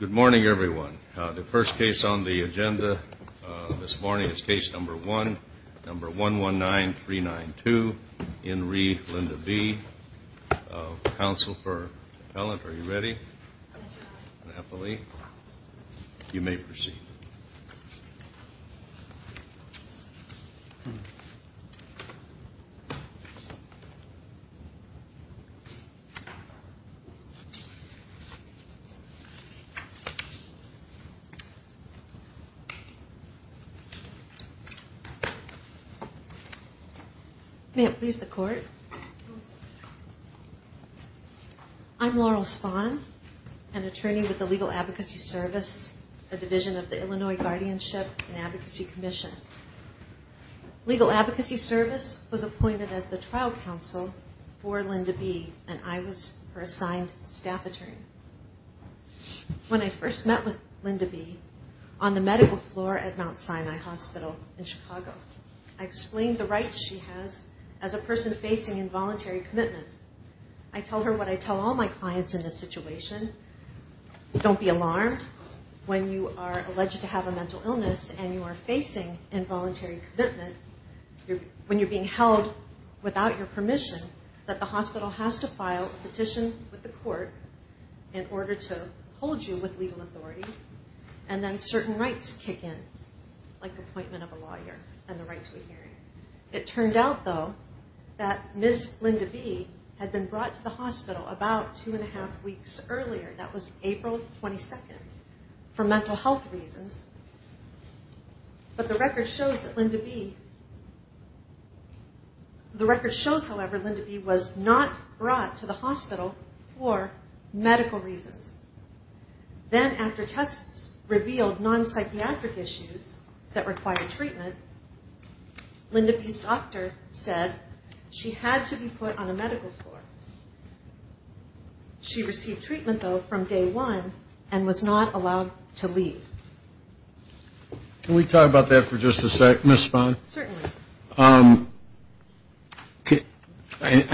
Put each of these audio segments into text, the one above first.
Good morning, everyone. The first case on the agenda this morning is case number one, number 119392, in re Linda B, counsel for appellant. Are you ready? Appellee, you may proceed. May it please the court. I'm Laurel Spahn, an attorney with the Legal Advocacy Service, a division of the Illinois Guardianship and Advocacy Commission. Legal Advocacy Service was appointed as the trial counsel for Linda B, and I was her assigned staff attorney. When I first met with Linda B on the medical floor at Mount Sinai Hospital in Chicago, I explained the rights she has as a person facing involuntary commitment. I told her what I tell all my clients in this situation. Don't be alarmed when you are alleged to have a mental illness and you are facing involuntary commitment. When you're being held without your permission, that the hospital has to file a petition with the court in order to hold you with legal authority, and then certain rights kick in, like appointment of a lawyer and the right to a hearing. It turned out, though, that Ms. Linda B had been brought to the hospital about two and a half weeks earlier, that was April 22nd, for mental health reasons. But the record shows that Linda B, the record shows, however, Linda B was not brought to the hospital for medical reasons. Then after tests revealed non-psychiatric issues that required treatment, Linda B's doctor said she had to be put on a medical floor. She received treatment, though, from day one and was not allowed to leave. Can we talk about that for just a second, Ms. Spahn? Certainly. I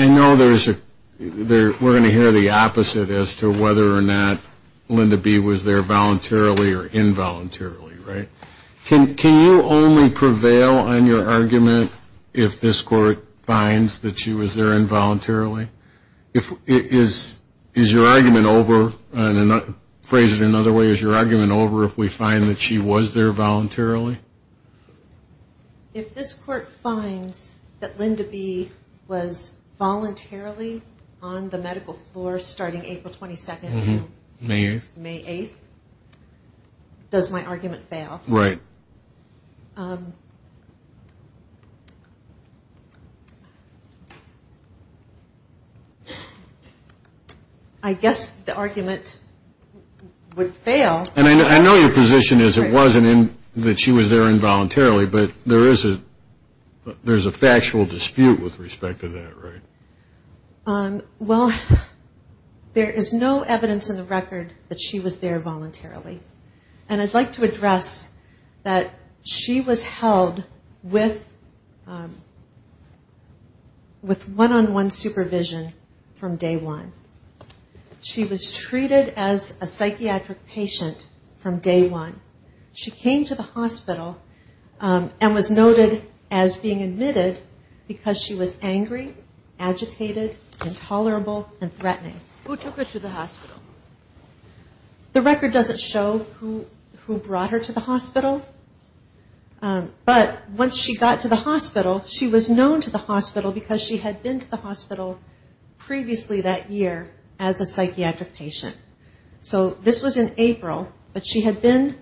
know we're going to hear the opposite as to whether or not Linda B was there voluntarily or involuntarily, right? Can you only prevail on your argument if this court finds that she was there involuntarily? Is your argument over, phrase it another way, is your argument over if we find that she was there voluntarily? If this court finds that Linda B was voluntarily on the medical floor starting April 22nd until May 8th, does my argument fail? Right. I guess the argument would fail. And I know your position is it wasn't that she was there involuntarily, but there is a factual dispute with respect to that, right? Well, there is no evidence in the record that she was there voluntarily. And I'd like to address that she was held with one-on-one supervision from day one. She was treated as a psychiatric patient from day one. She came to the hospital and was noted as being admitted because she was angry, agitated, intolerable, and threatening. Who took her to the hospital? The record doesn't show who brought her to the hospital. But once she got to the hospital, she was known to the hospital because she had been to the hospital previously that year as a psychiatric patient. So this was in April, but she had been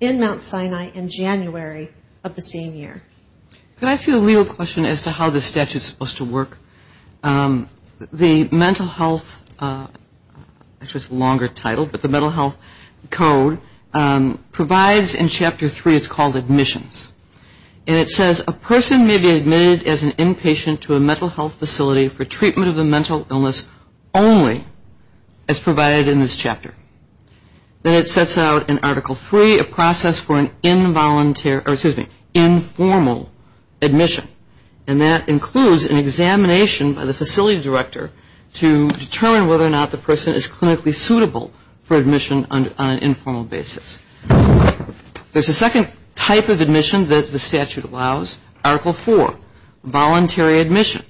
in Mount Sinai in January of the same year. Could I ask you a legal question as to how this statute is supposed to work? The Mental Health, which is a longer title, but the Mental Health Code provides in Chapter 3, it's called admissions. And it says a person may be admitted as an inpatient to a mental health facility for treatment of a mental illness only as provided in this chapter. Then it sets out in Article 3 a process for an informal admission. And that includes an examination by the facility director to determine whether or not the person is clinically suitable for admission on an informal basis. There's a second type of admission that the statute allows, Article 4, voluntary admission.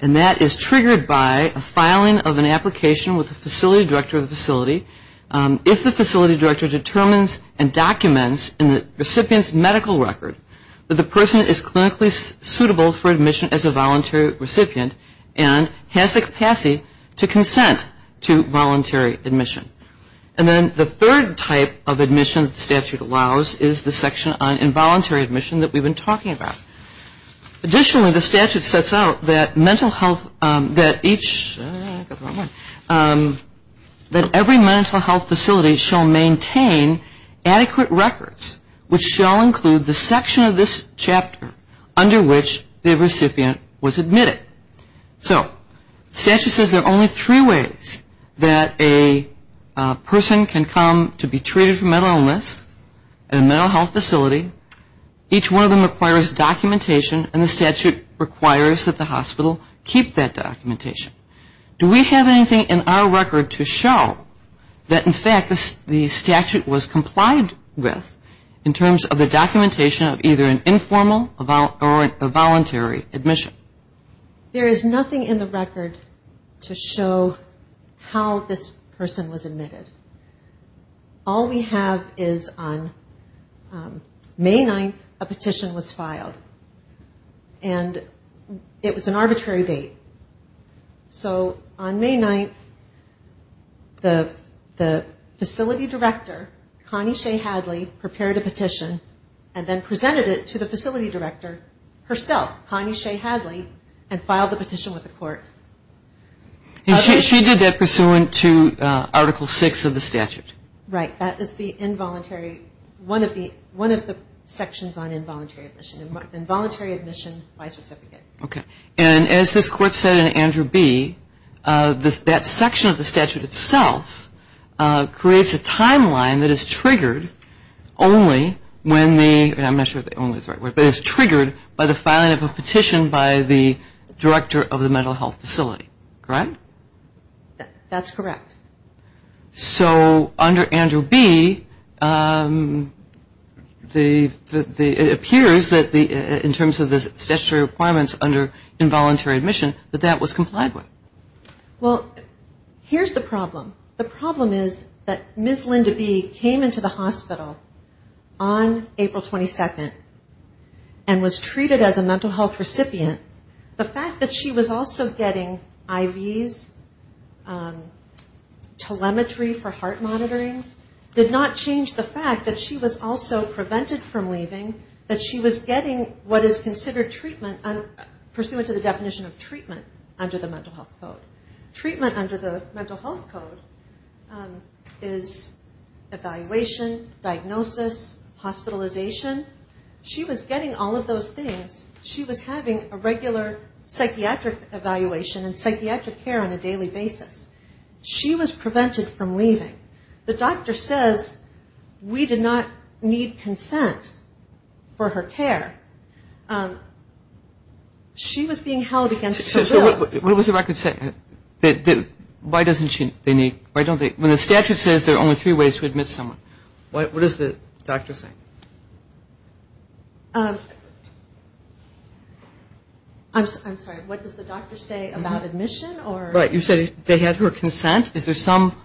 And that is triggered by a filing of an application with the facility director of the facility. If the facility director determines and documents in the recipient's medical record that the person is clinically suitable for admission as a voluntary recipient and has the capacity to consent to voluntary admission. And then the third type of admission the statute allows is the section on involuntary admission that we've been talking about. Additionally, the statute sets out that every mental health facility shall maintain adequate records, which shall include the section of this chapter under which the recipient was admitted. So the statute says there are only three ways that a person can come to be treated for mental illness in a mental health facility. Each one of them requires documentation and the statute requires that the hospital keep that documentation. Do we have anything in our record to show that in fact the statute was complied with in terms of the documentation of either an informal or a voluntary admission? There is nothing in the record to show how this person was admitted. All we have is on May 9th a petition was filed. And it was an arbitrary date. So on May 9th the facility director, Connie Shea Hadley, prepared a petition and then presented it to the facility director herself, Connie Shea Hadley, and filed the petition with the court. And she did that pursuant to Article 6 of the statute? Right. That is the involuntary, one of the sections on involuntary admission, involuntary admission by certificate. Okay. And as this court said in Andrew B., that section of the statute itself creates a timeline that is triggered only when the, I'm not sure if that's the right word, but is triggered by the filing of a petition by the director of the mental health facility. Correct? That's correct. So under Andrew B., it appears that in terms of the statutory requirements under involuntary admission that that was complied with. Well, here's the problem. The problem is that Ms. Linda B. came into the hospital on April 22nd and was treated as a mental health recipient. The fact that she was also getting IVs, telemetry for heart monitoring, did not change the fact that she was also prevented from leaving, that she was getting what is considered treatment, pursuant to the definition of treatment under the mental health code. Treatment under the mental health code is evaluation, diagnosis, hospitalization. She was getting all of those things. She was having a regular psychiatric evaluation and psychiatric care on a daily basis. She was prevented from leaving. The doctor says we did not need consent for her care. She was being held against her will. So what does the record say? Why doesn't she need? Why don't they? When the statute says there are only three ways to admit someone, what does the doctor say? I'm sorry. What does the doctor say about admission or? Right. You said they had her consent. Is there some?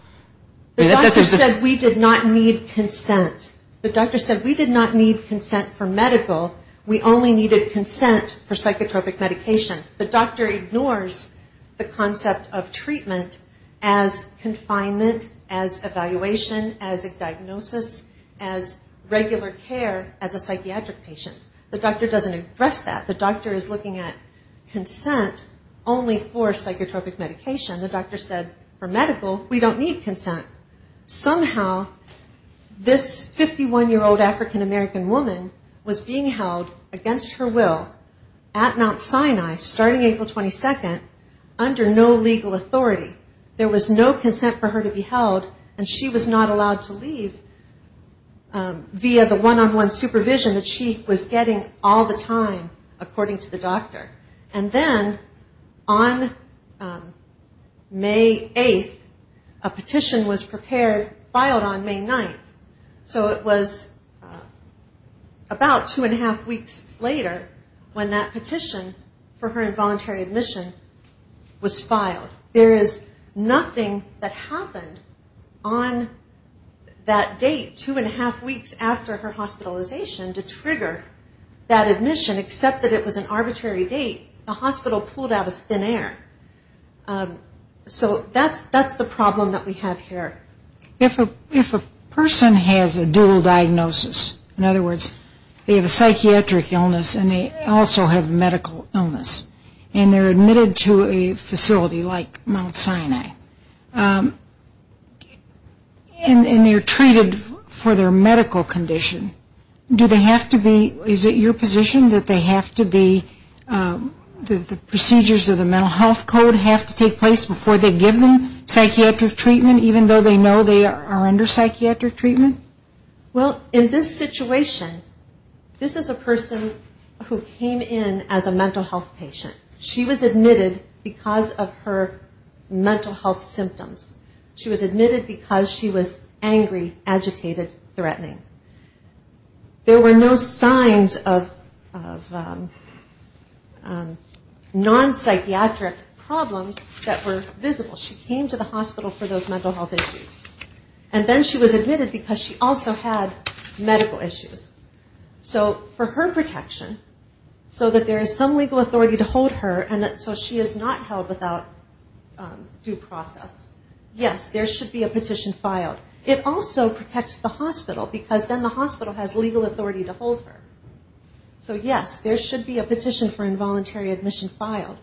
The doctor said we did not need consent. The doctor said we did not need consent for medical. We only needed consent for psychotropic medication. The doctor ignores the concept of treatment as confinement, as evaluation, as a diagnosis, as regular care, as a psychiatric patient. The doctor doesn't address that. The doctor is looking at consent only for psychotropic medication. The doctor said for medical, we don't need consent. Somehow this 51-year-old African-American woman was being held against her will at Mount Sinai starting April 22nd under no legal authority. There was no consent for her to be held, and she was not allowed to leave via the one-on-one supervision that she was getting all the time, according to the doctor. And then on May 8th, a petition was prepared, filed on May 9th. So it was about two and a half weeks later when that petition for her involuntary admission was filed. There is nothing that happened on that date, two and a half weeks after her hospitalization, to trigger that admission, except that it was an arbitrary date. The hospital pulled out of thin air. So that's the problem that we have here. If a person has a dual diagnosis, in other words, they have a psychiatric illness and they also have a medical illness, and they're admitted to a facility like Mount Sinai, and they're treated for their medical condition, do they have to be, is it your position that they have to be, that the procedures of the mental health code have to take place before they give them psychiatric treatment, even though they know they are under psychiatric treatment? Well, in this situation, this is a person who came in as a mental health patient. She was admitted because of her mental health symptoms. She was admitted because she was angry, agitated, threatening. There were no signs of non-psychiatric problems that were visible. She came to the hospital for those mental health issues. And then she was admitted because she also had medical issues. So for her protection, so that there is some legal authority to hold her, and so she is not held without due process, yes, there should be a petition filed. It also protects the hospital, because then the hospital has legal authority to hold her. So yes, there should be a petition for involuntary admission filed.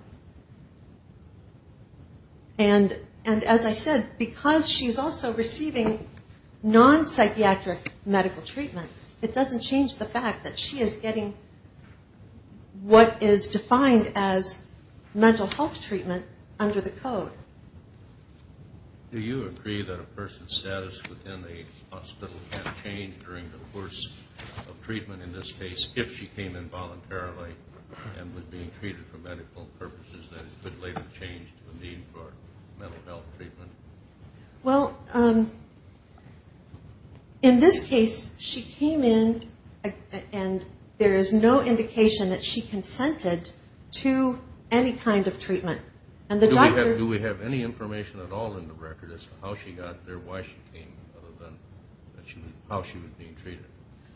And as I said, because she is also receiving non-psychiatric medical treatments, it doesn't change the fact that she is getting what is defined as mental health treatment under the code. Do you agree that a person's status within the hospital can change during the course of treatment in this case if she came in voluntarily and was being treated for medical purposes that it could later change the need for mental health treatment? Well, in this case, she came in, and there is no indication that she consented to any kind of treatment. Do we have any information at all in the record as to how she got there, why she came, other than how she was being treated?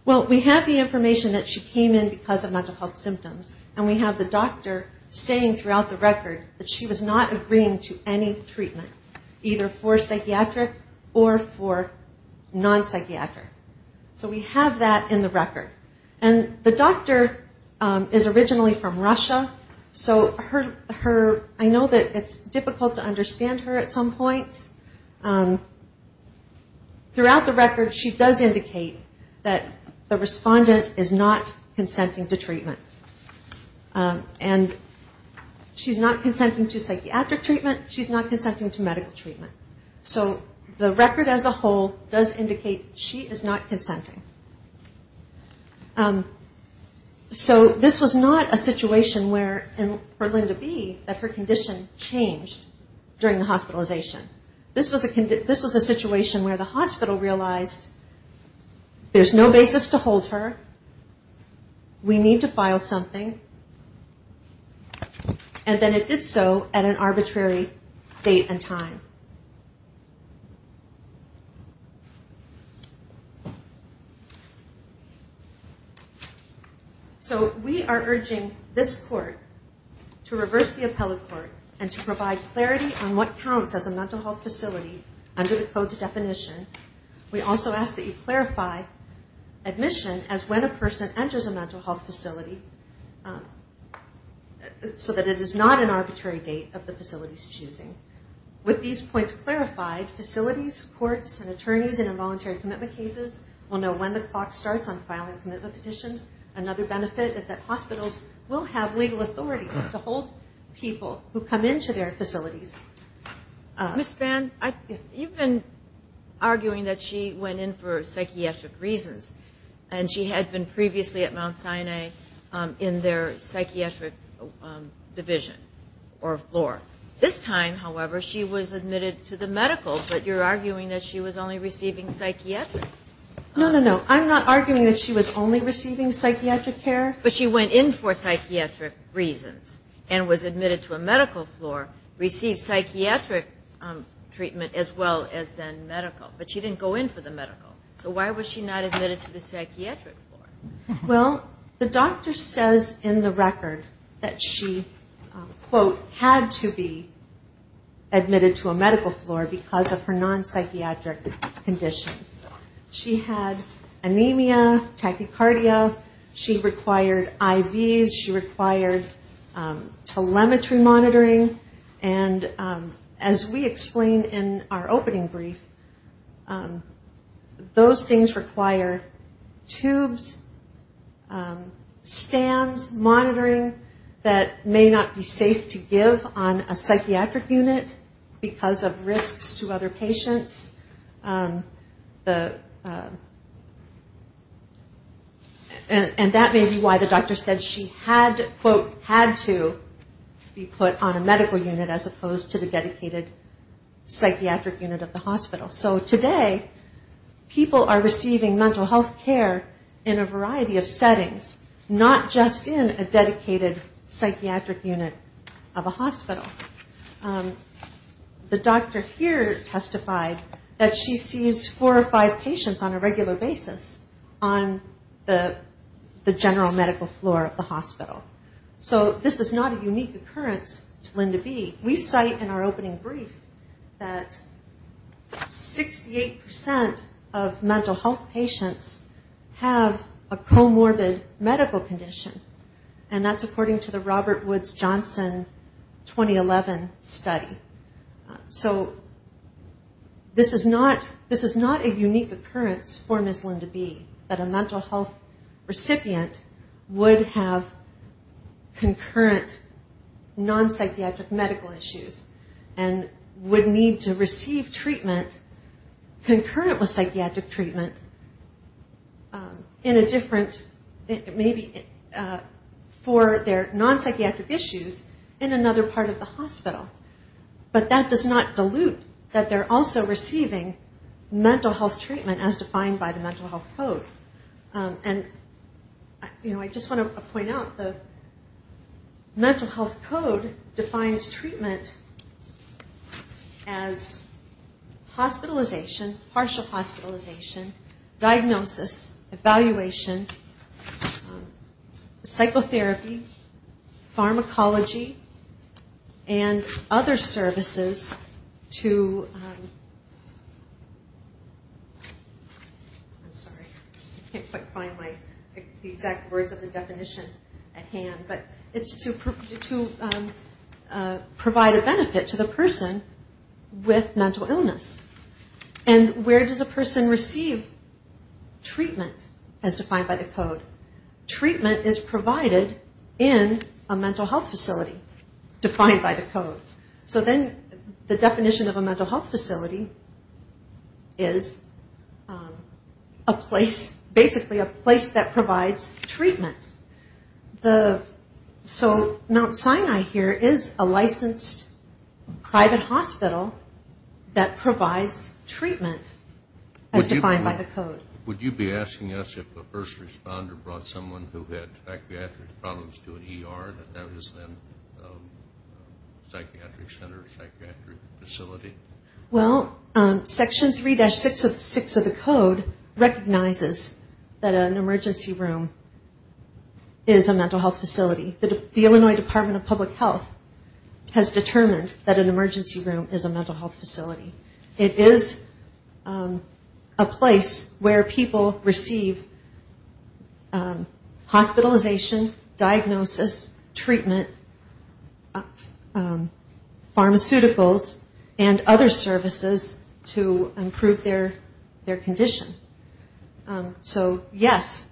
Well, we have the information that she came in because of mental health symptoms, and we have the doctor saying throughout the record that she was not agreeing to any treatment, either for psychiatric or for non-psychiatric. So we have that in the record. And the doctor is originally from Russia, so I know that it's difficult to understand her at some points. Throughout the record, she does indicate that the respondent is not consenting to treatment. And she's not consenting to psychiatric treatment. She's not consenting to medical treatment. So the record as a whole does indicate she is not consenting. So this was not a situation where, for Linda B, that her condition changed during the hospitalization. This was a situation where the hospital realized there's no basis to hold her, we need to file something, and then it did so at an arbitrary date and time. So we are urging this court to reverse the appellate court and to provide clarity on what counts as a mental health facility under the Code's definition. We also ask that you clarify admission as when a person enters a mental health facility so that it is not an arbitrary date of the facility's choosing. With these points clarified, facilities, courts, and attorneys in involuntary commitment cases will know when the clock starts on filing commitment petitions. Another benefit is that hospitals will have legal authority to hold people who come into their facilities. Ms. Spann, you've been arguing that she went in for psychiatric reasons, and she had been previously at Mount Sinai in their psychiatric division or floor. This time, however, she was admitted to the medical, but you're arguing that she was only receiving psychiatric. No, no, no. I'm not arguing that she was only receiving psychiatric care. But she went in for psychiatric reasons and was admitted to a medical floor, received psychiatric treatment as well as then medical, but she didn't go in for the medical. So why was she not admitted to the psychiatric floor? She had to be admitted to a medical floor because of her non-psychiatric conditions. She had anemia, tachycardia. She required IVs. She required telemetry monitoring. And as we explained in our opening brief, those things require tubes, stands, monitoring that may not be safe to give on a psychiatric unit because of risks to other patients. And that may be why the doctor said she had, quote, had to be put on a medical unit as opposed to the dedicated psychiatric unit of the hospital. So today, people are receiving mental health care in a variety of settings, not just in a dedicated psychiatric unit of a hospital. The doctor here testified that she sees four or five patients on a regular basis on the general medical floor of the hospital. So this is not a unique occurrence to Linda B. We cite in our opening brief that 68% of mental health patients have a comorbid medical condition, and that's according to the Robert Woods Johnson 2011 study. So this is not a unique occurrence for Ms. Linda B, that a mental health recipient would have concurrent non-psychiatric medical issues and would need to receive treatment concurrent with psychiatric treatment in a different, maybe for their non-psychiatric issues in another part of the hospital. But that does not dilute that they're also receiving mental health treatment as defined by the Mental Health Code. And, you know, I just want to point out the Mental Health Code defines treatment as hospitalization, partial hospitalization, diagnosis, evaluation, psychotherapy, pharmacology, and other services to provide a benefit to the person with mental illness. And where does a person receive treatment as defined by the Code? Treatment is provided in a mental health facility defined by the Code. So then the definition of a mental health facility is a place, basically a place that provides treatment. So Mount Sinai here is a licensed private hospital that provides treatment as defined by the Code. Would you be asking us if the first responder brought someone who had psychiatric problems to an ER and that was then a psychiatric center or psychiatric facility? Well, Section 3-6 of the Code recognizes that an emergency room is a mental health facility. The Illinois Department of Public Health has determined that an emergency room is a mental health facility. It is a place where people receive hospitalization, diagnosis, treatment, pharmaceuticals, and other services to improve their condition. So, yes,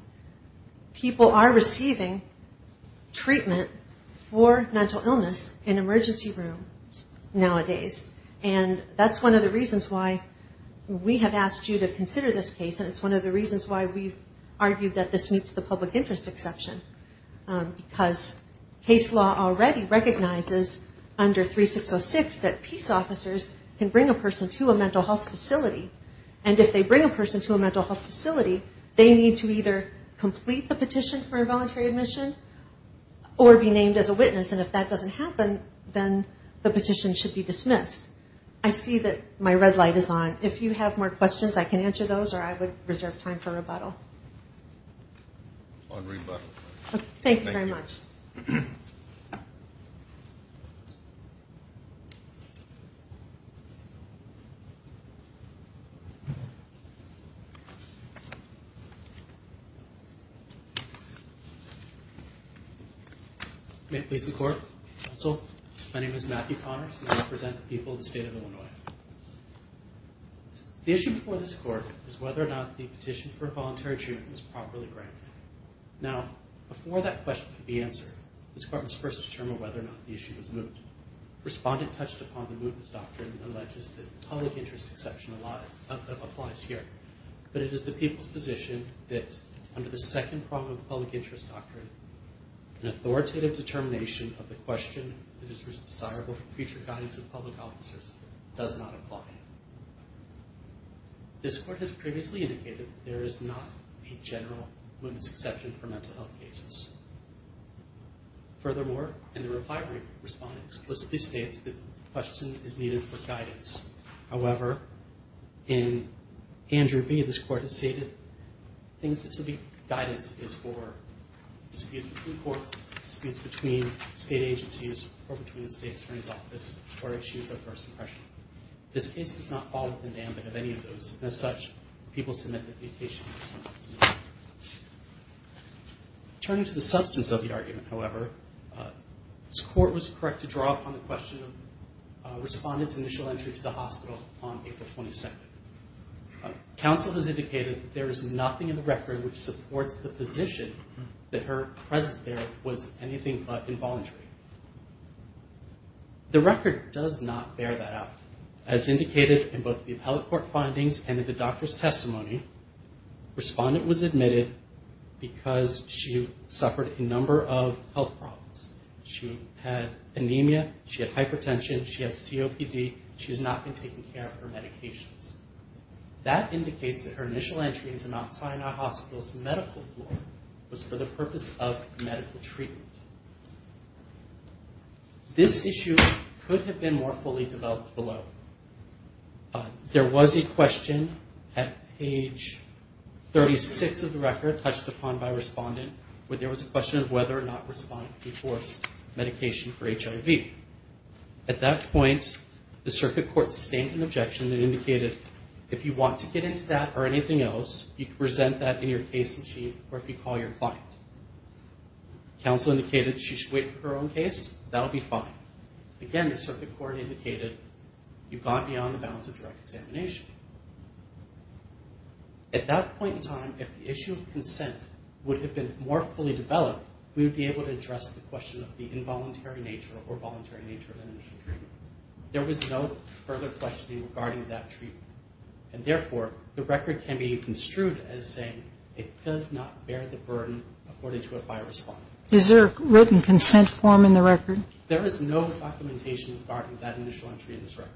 people are receiving treatment for mental illness in emergency rooms nowadays. And that's one of the reasons why we have asked you to consider this case. And it's one of the reasons why we've argued that this meets the public interest exception. Because case law already recognizes under 3-6-0-6 that peace officers can bring a person to a mental health facility. And if they bring a person to a mental health facility, they need to either complete the petition for involuntary admission or be named as a witness. And if that doesn't happen, then the petition should be dismissed. I see that my red light is on. If you have more questions, I can answer those or I would reserve time for rebuttal. Thank you very much. May it please the Court. Counsel, my name is Matthew Connors and I represent the people of the state of Illinois. The issue before this Court is whether or not the petition for involuntary treatment is properly granted. Now, before that question can be answered, this Court must first determine whether or not the issue is moot. Respondent touched upon the mootness doctrine alleges that public interest exception applies here. But it is the people's position that under the second prong of the public interest doctrine, an authoritative determination of the question that is desirable for future guidance of public officers does not apply. This Court has previously indicated that there is not a general mootness exception for mental health cases. Furthermore, in the reply response, it explicitly states that the question is needed for guidance. However, in Andrew B., this Court has stated things that should be guidance is for disputes between courts, disputes between state agencies, or between the state attorney's office, or issues of first impression. This case does not fall within the ambit of any of those, and as such, people submit that the petition is moot. Turning to the substance of the argument, however, this Court was correct to draw upon the question of the hospital on April 22nd. Counsel has indicated that there is nothing in the record which supports the position that her presence there was anything but involuntary. The record does not bear that out. As indicated in both the appellate court findings and in the doctor's testimony, respondent was admitted because she suffered a number of health problems. She had anemia, she had hypertension, she had COPD, she has not been taking care of her medications. That indicates that her initial entry into Mount Sinai Hospital's medical floor was for the purpose of medical treatment. This issue could have been more fully developed below. There was a question at page 36 of the record, touched upon by respondent, where there was a question of whether or not respondent could force medication for HIV. At that point, the circuit court sustained an objection and indicated, if you want to get into that or anything else, you can present that in your case machine or if you call your client. Counsel indicated she should wait for her own case, that would be fine. Again, the circuit court indicated you've gone beyond the bounds of direct examination. At that point in time, if the issue of consent would have been more fully developed, we would be able to address the question of the involuntary nature or voluntary nature of that initial treatment. There was no further questioning regarding that treatment. And therefore, the record can be construed as saying it does not bear the burden afforded to it by a respondent. Is there a written consent form in the record? There is no documentation regarding that initial entry in this record.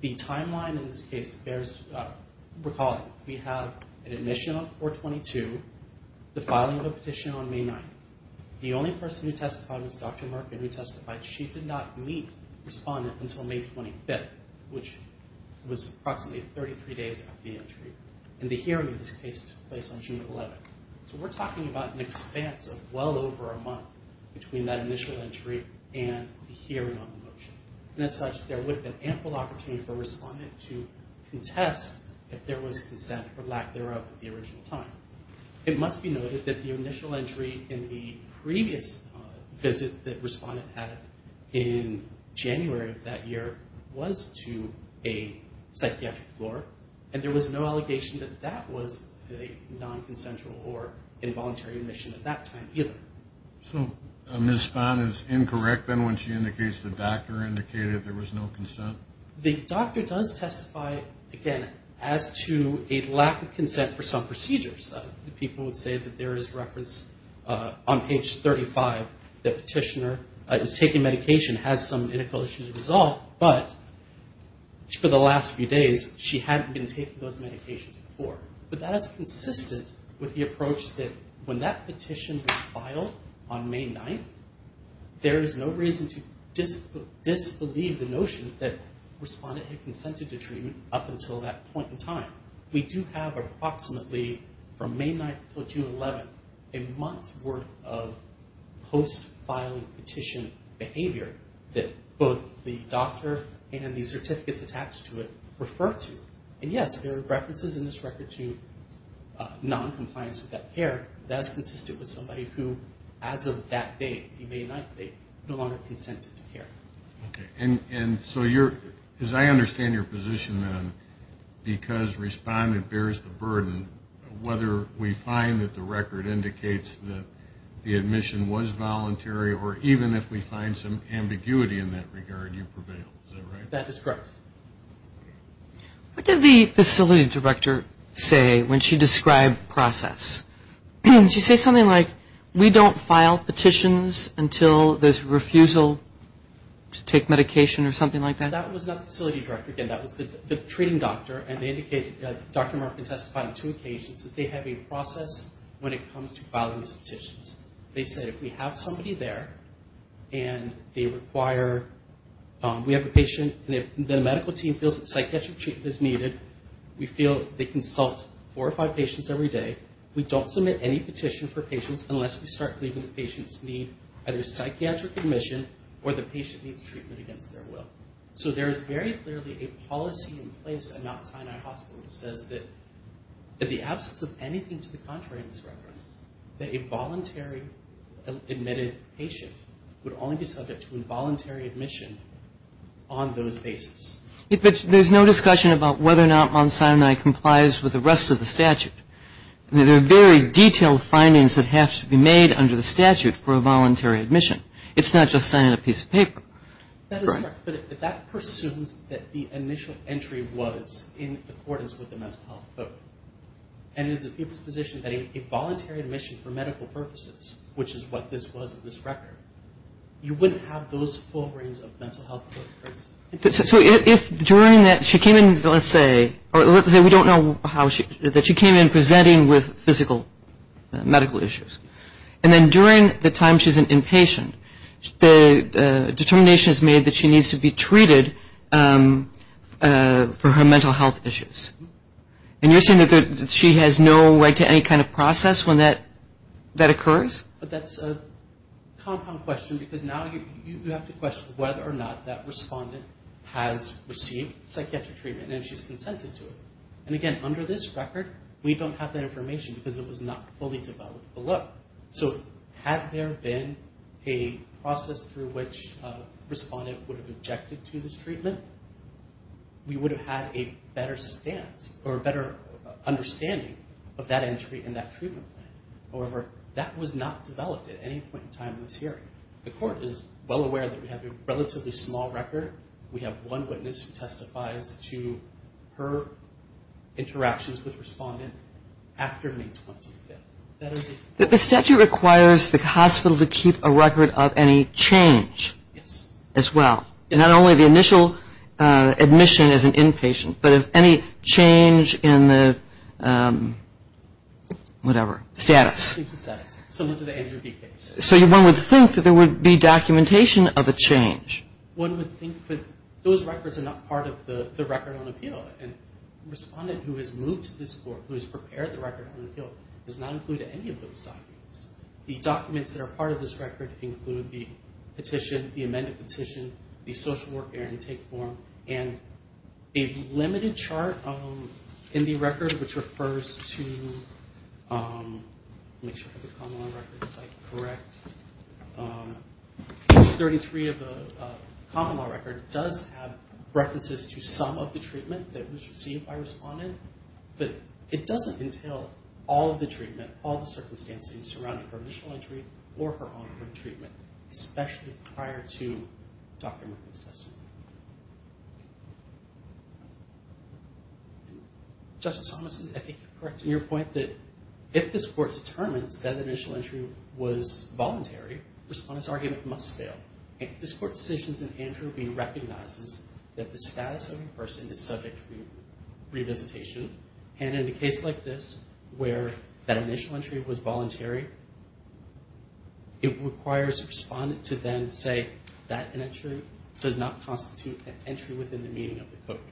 The timeline in this case bears recalling. We have an admission on 4-22, the filing of a petition on May 9th. The only person who testified was Dr. Markin, who testified. She did not meet respondent until May 25th, which was approximately 33 days after the entry. And the hearing in this case took place on June 11th. So we're talking about an expanse of well over a month between that initial entry and the hearing on the motion. And as such, there would have been ample opportunity for a respondent to contest if there was consent or lack thereof at the original time. It must be noted that the initial entry in the previous visit that respondent had in January of that year was to a psychiatric floor, and there was no allegation that that was a nonconsensual or involuntary admission at that time either. So Ms. Spahn is incorrect then when she indicates the doctor indicated there was no consent? The doctor does testify, again, as to a lack of consent for some procedures. People would say that there is reference on page 35 that the petitioner is taking medication, has some medical issues resolved, but for the last few days she hadn't been taking those medications before. But that is consistent with the approach that when that petition was filed on May 9th, there is no reason to disbelieve the notion that respondent had consented to treatment up until that point in time. We do have approximately from May 9th until June 11th a month's worth of post-filing petition behavior that both the doctor and the certificates attached to it refer to. And yes, there are references in this record to noncompliance with that care. That is consistent with somebody who as of that date, he may not, they no longer consented to care. And so as I understand your position then, because respondent bears the burden, whether we find that the record indicates that the admission was voluntary or even if we find some ambiguity in that regard, you prevail. Is that right? That is correct. What did the facility director say when she described process? Did she say something like we don't file petitions until there's refusal to take medication or something like that? That was not the facility director. Again, that was the treating doctor and they indicated, Dr. Markin testified on two occasions, that they have a process when it comes to filing these petitions. They said if we have somebody there and they require, we have a patient, and the medical team feels that psychiatric treatment is needed, we feel they consult four or five patients every day, we don't submit any petition for patients unless we start believing the patients need either psychiatric admission or the patient needs treatment against their will. So there is very clearly a policy in place at Mount Sinai Hospital that says that in the absence of anything to the contrary in this record, that a voluntary admitted patient would only be subject to involuntary admission on those basis. There's no discussion about whether or not Mount Sinai complies with the rest of the statute. There are very detailed findings that have to be made under the statute for a voluntary admission. That is correct, but that presumes that the initial entry was in accordance with the mental health code. And it's a position that a voluntary admission for medical purposes, which is what this was in this record, you wouldn't have those full rings of mental health codes. So if during that she came in, let's say, we don't know how she, that she came in presenting with physical medical issues, and then during the time she's an inpatient, the determination is made that she needs to be treated for her mental health issues. And you're saying that she has no right to any kind of process when that occurs? But that's a compound question because now you have to question whether or not that respondent has received psychiatric treatment and she's consented to it. And again, under this record, we don't have that information because it was not fully developed below. So had there been a process through which a respondent would have objected to this treatment, we would have had a better stance or a better understanding of that entry in that treatment plan. However, that was not developed at any point in time in this hearing. The court is well aware that we have a relatively small record. We have one witness who testifies to her interactions with respondent after May 25th. That is it. But the statute requires the hospital to keep a record of any change as well. Not only the initial admission as an inpatient, but of any change in the whatever, status. So one would think that there would be documentation of a change. One would think that those records are not part of the record on appeal. And the respondent who has moved to this court, who has prepared the record on appeal, does not include any of those documents. The documents that are part of this record include the petition, the amended petition, the social work air intake form, and a limited chart in the record which refers to, make sure I have the common law record correct. Page 33 of the common law record does have references to some of the treatment that was received by a respondent. But it doesn't entail all of the treatment, all the circumstances surrounding her initial entry or her ongoing treatment, especially prior to Dr. Merkitt's testimony. Justice Thomason, I think you're correct in your point that if this court determines that initial entry was voluntary, the respondent's argument must fail. If this court's decision is an interview, it recognizes that the status of the person is subject to revisitation. And in a case like this, where that initial entry was voluntary, it requires the respondent to then say, that initial entry does not constitute an entry within the meaning of the code.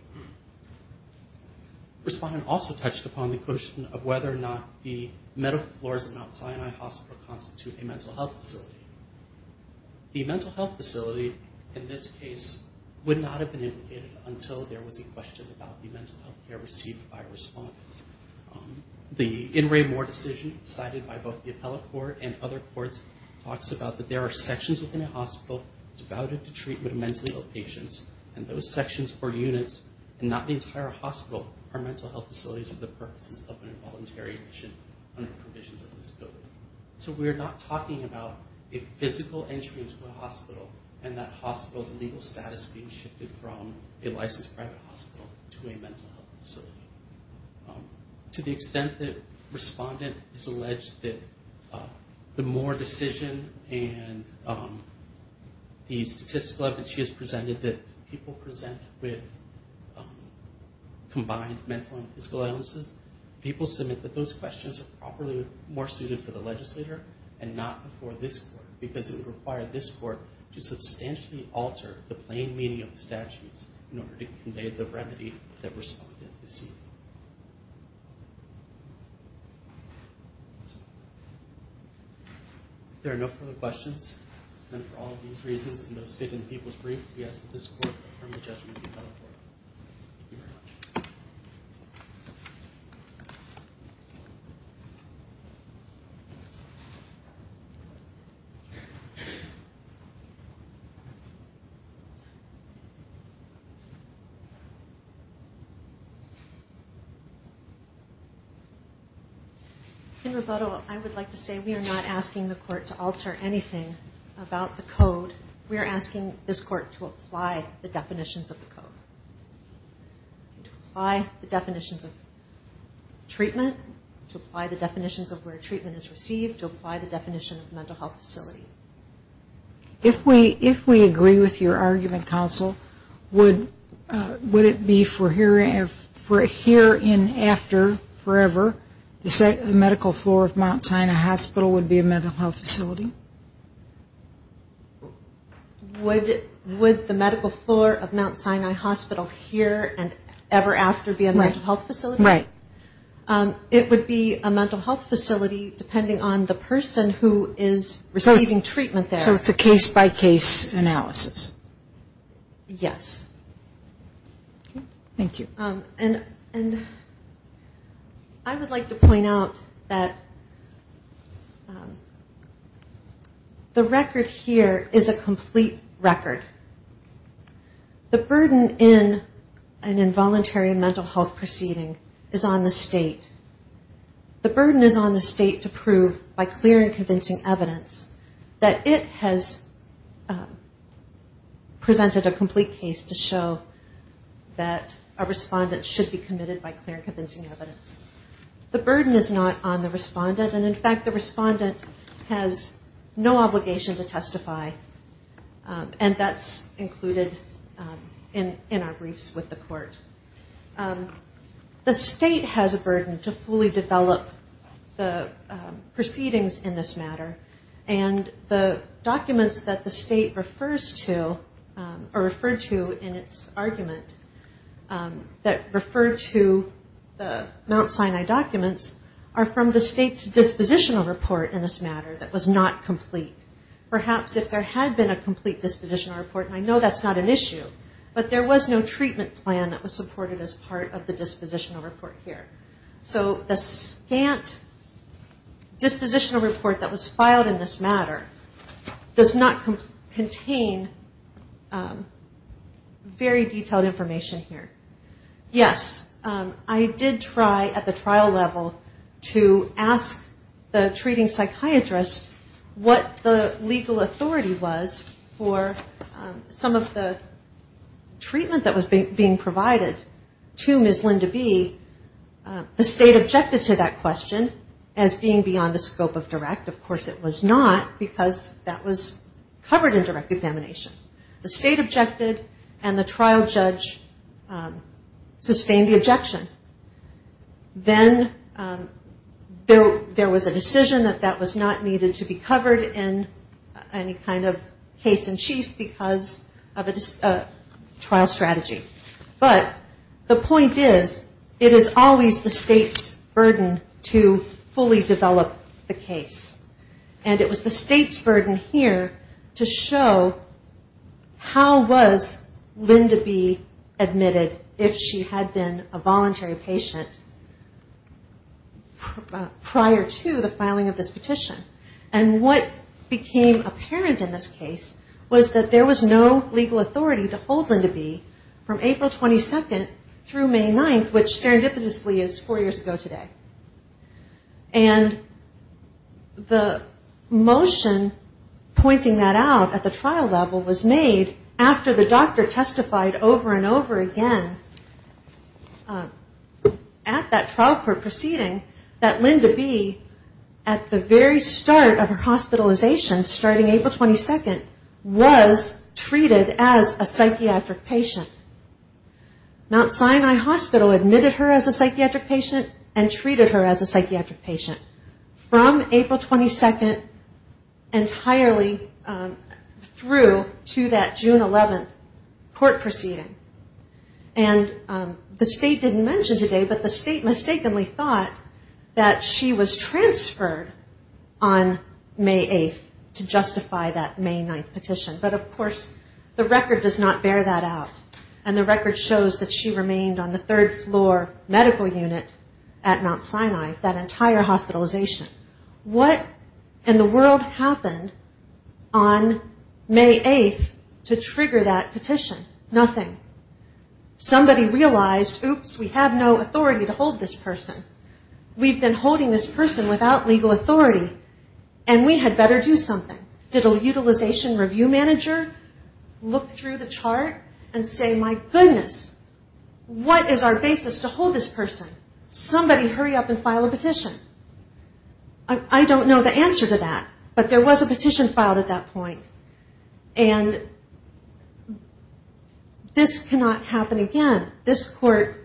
Respondent also touched upon the question of whether or not the medical floors of Mount Sinai Hospital constitute a mental health facility. The mental health facility in this case would not have been indicated until there was a question about the mental health care received by a respondent. The In Re More decision cited by both the appellate court and other courts talks about that there are sections within a hospital devoted to treatment of mentally ill patients, and those sections or units, and not the entire hospital, are mental health facilities for the purposes of an involuntary admission under provisions of this code. So we're not talking about a physical entry into a hospital and that hospital's legal status being shifted from a licensed private hospital to a mental health facility. To the extent that respondent has alleged that the More decision and the statistical evidence she has presented that people present with combined mental and physical illnesses, people submit that those questions are properly more suited for the legislator and not before this court, because it would require this court to substantially alter the plain meaning of the statutes in order to convey the remedy that respondent is seeking. If there are no further questions, then for all of these reasons and those stated in the people's brief, we ask that this court affirm the judgment of the appellate court. Thank you very much. In rebuttal, I would like to say we are not asking the court to alter anything about the code. We are asking this court to apply the definitions of the code. To apply the definitions of treatment, to apply the definitions of where treatment is received, to apply the definition of mental health facility. If we agree with your argument, counsel, would it be for here and after, forever, the medical floor of Mount Sinai Hospital would be a mental health facility? Would the medical floor of Mount Sinai Hospital here and ever after be a mental health facility? Right. It would be a mental health facility depending on the person who is receiving treatment there. So it's a case-by-case analysis. Yes. Thank you. I would like to point out that the record here is a complete record. The burden in an involuntary mental health proceeding is on the state. The burden is on the state to prove by clear and convincing evidence that it has presented a complete case to show that a respondent should be committed by clear and convincing evidence. The burden is not on the respondent, and in fact the respondent has no obligation to testify, and that's included in our briefs with the court. The state has a burden to fully develop the proceedings in this matter, and the documents that the state refers to or referred to in its argument that refer to the Mount Sinai documents are from the state's dispositional report in this matter that was not complete. Perhaps if there had been a complete dispositional report, and I know that's not an issue, but there was no treatment plan that was supported as part of the dispositional report here. So the scant dispositional report that was filed in this matter does not contain very detailed information here. Yes, I did try at the trial level to ask the treating psychiatrist what the legal authority was for some of the treatment that was being provided to Ms. Linda B. The state objected to that question as being beyond the scope of direct. Of course it was not, because that was covered in direct examination. The state objected, and the trial judge sustained the objection. Then there was a decision that that was not needed to be covered in any kind of case in chief because of a trial strategy. But the point is it is always the state's burden to fully develop the case. And it was the state's burden here to show how was Linda B. admitted if she had been a voluntary patient prior to the filing of this And what became apparent in this case was that there was no legal authority to hold Linda B. from April 22nd through May 9th, which serendipitously is four years ago today. And the motion pointing that out at the trial level was made after the doctor was treated as a psychiatric patient. Mount Sinai Hospital admitted her as a psychiatric patient and treated her as a psychiatric patient from April 22nd entirely through to that June 11th court proceeding. And the state didn't mention today, but the state mistakenly thought that she was transferred on May 8th to justify that May 9th petition. But of course the record does not bear that out. And the record shows that she remained on the third floor medical unit at Mount Sinai, that entire hospitalization. What in the world happened on May 8th to trigger that petition? Nothing. Somebody realized, oops, we have no authority to hold this person. We've been holding this person without legal authority and we had better do something. Did a utilization review manager look through the chart and say, my goodness, what is our basis to hold this person? Somebody hurry up and file a petition. I don't know the answer to that, but there was a petition filed at that point. And this cannot happen again. This court,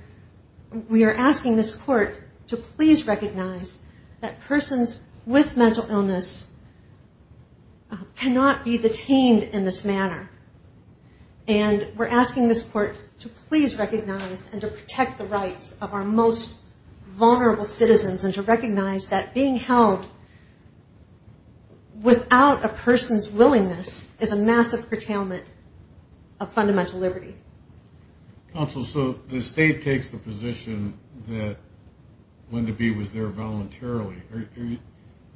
we are asking this court to please recognize that persons with mental illness cannot be detained in this manner. And we're asking this court to please recognize and to protect the rights of our most vulnerable citizens and to recognize that being held without a person's willingness is a massive curtailment of fundamental liberty. Counsel, so the state takes the position that Linda B. was there voluntarily.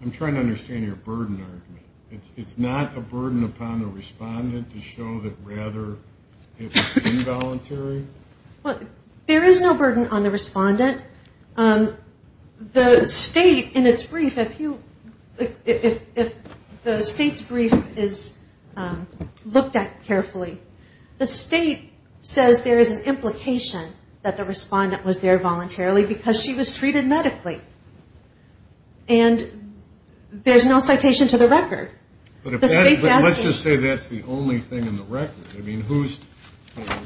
I'm trying to understand your burden argument. It's not a burden upon the respondent to show that rather it was involuntary? There is no burden on the respondent. The state in its brief, if the state's brief is looked at carefully, the state says there is an implication that the respondent was there voluntarily because she was treated medically. And there is no citation to the record. But let's just say that's the only thing in the record. I mean, who's,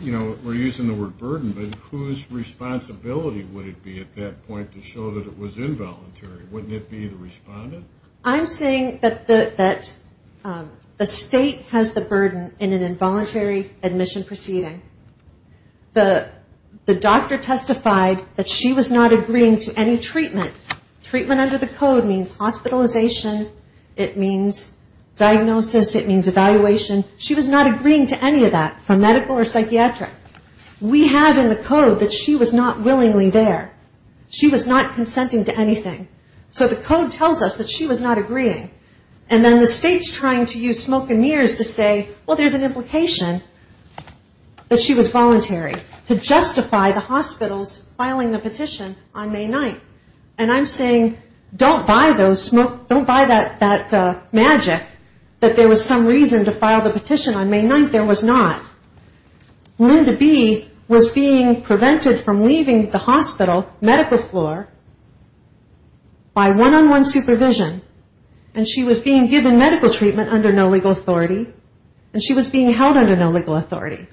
you know, we're using the word burden, but whose responsibility would it be at that point to show that it was involuntary? Wouldn't it be the respondent? I'm saying that the state has the burden in an involuntary admission proceeding. The doctor testified that she was not agreeing to any treatment. Treatment under the code means hospitalization. It means diagnosis. It means evaluation. She was not agreeing to any of that, from medical or psychiatric. We have in the code that she was not willingly there. She was not consenting to anything. So the code tells us that she was not agreeing. And then the state's trying to use smoke and mirrors to say, well, there's an implication that she was voluntary to justify the hospital's filing the petition on May 9th. And I'm saying don't buy that magic that there was some reason to file the petition on May 9th. There was not. Linda B. was being prevented from leaving the hospital medical floor by one-on-one supervision, and she was being given medical treatment under no legal authority, and she was being held under no legal authority.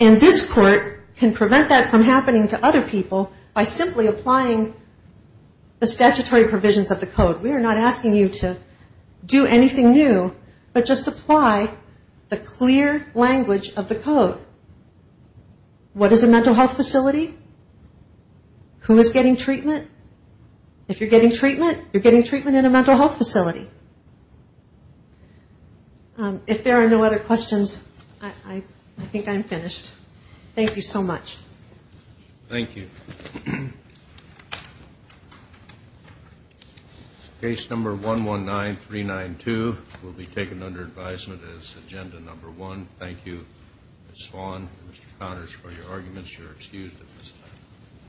And this court can prevent that from happening to other people by simply applying the statutory provisions of the code. We are not asking you to do anything new, but just apply the clear language of the code. What is a mental health facility? Who is getting treatment? If you're getting treatment, you're getting treatment in a mental health facility. If there are no other questions, I think I'm finished. Thank you so much. Thank you. Case number 119392 will be taken under advisement as agenda number one. Thank you, Ms. Swan and Mr. Connors, for your arguments. You're excused at this time.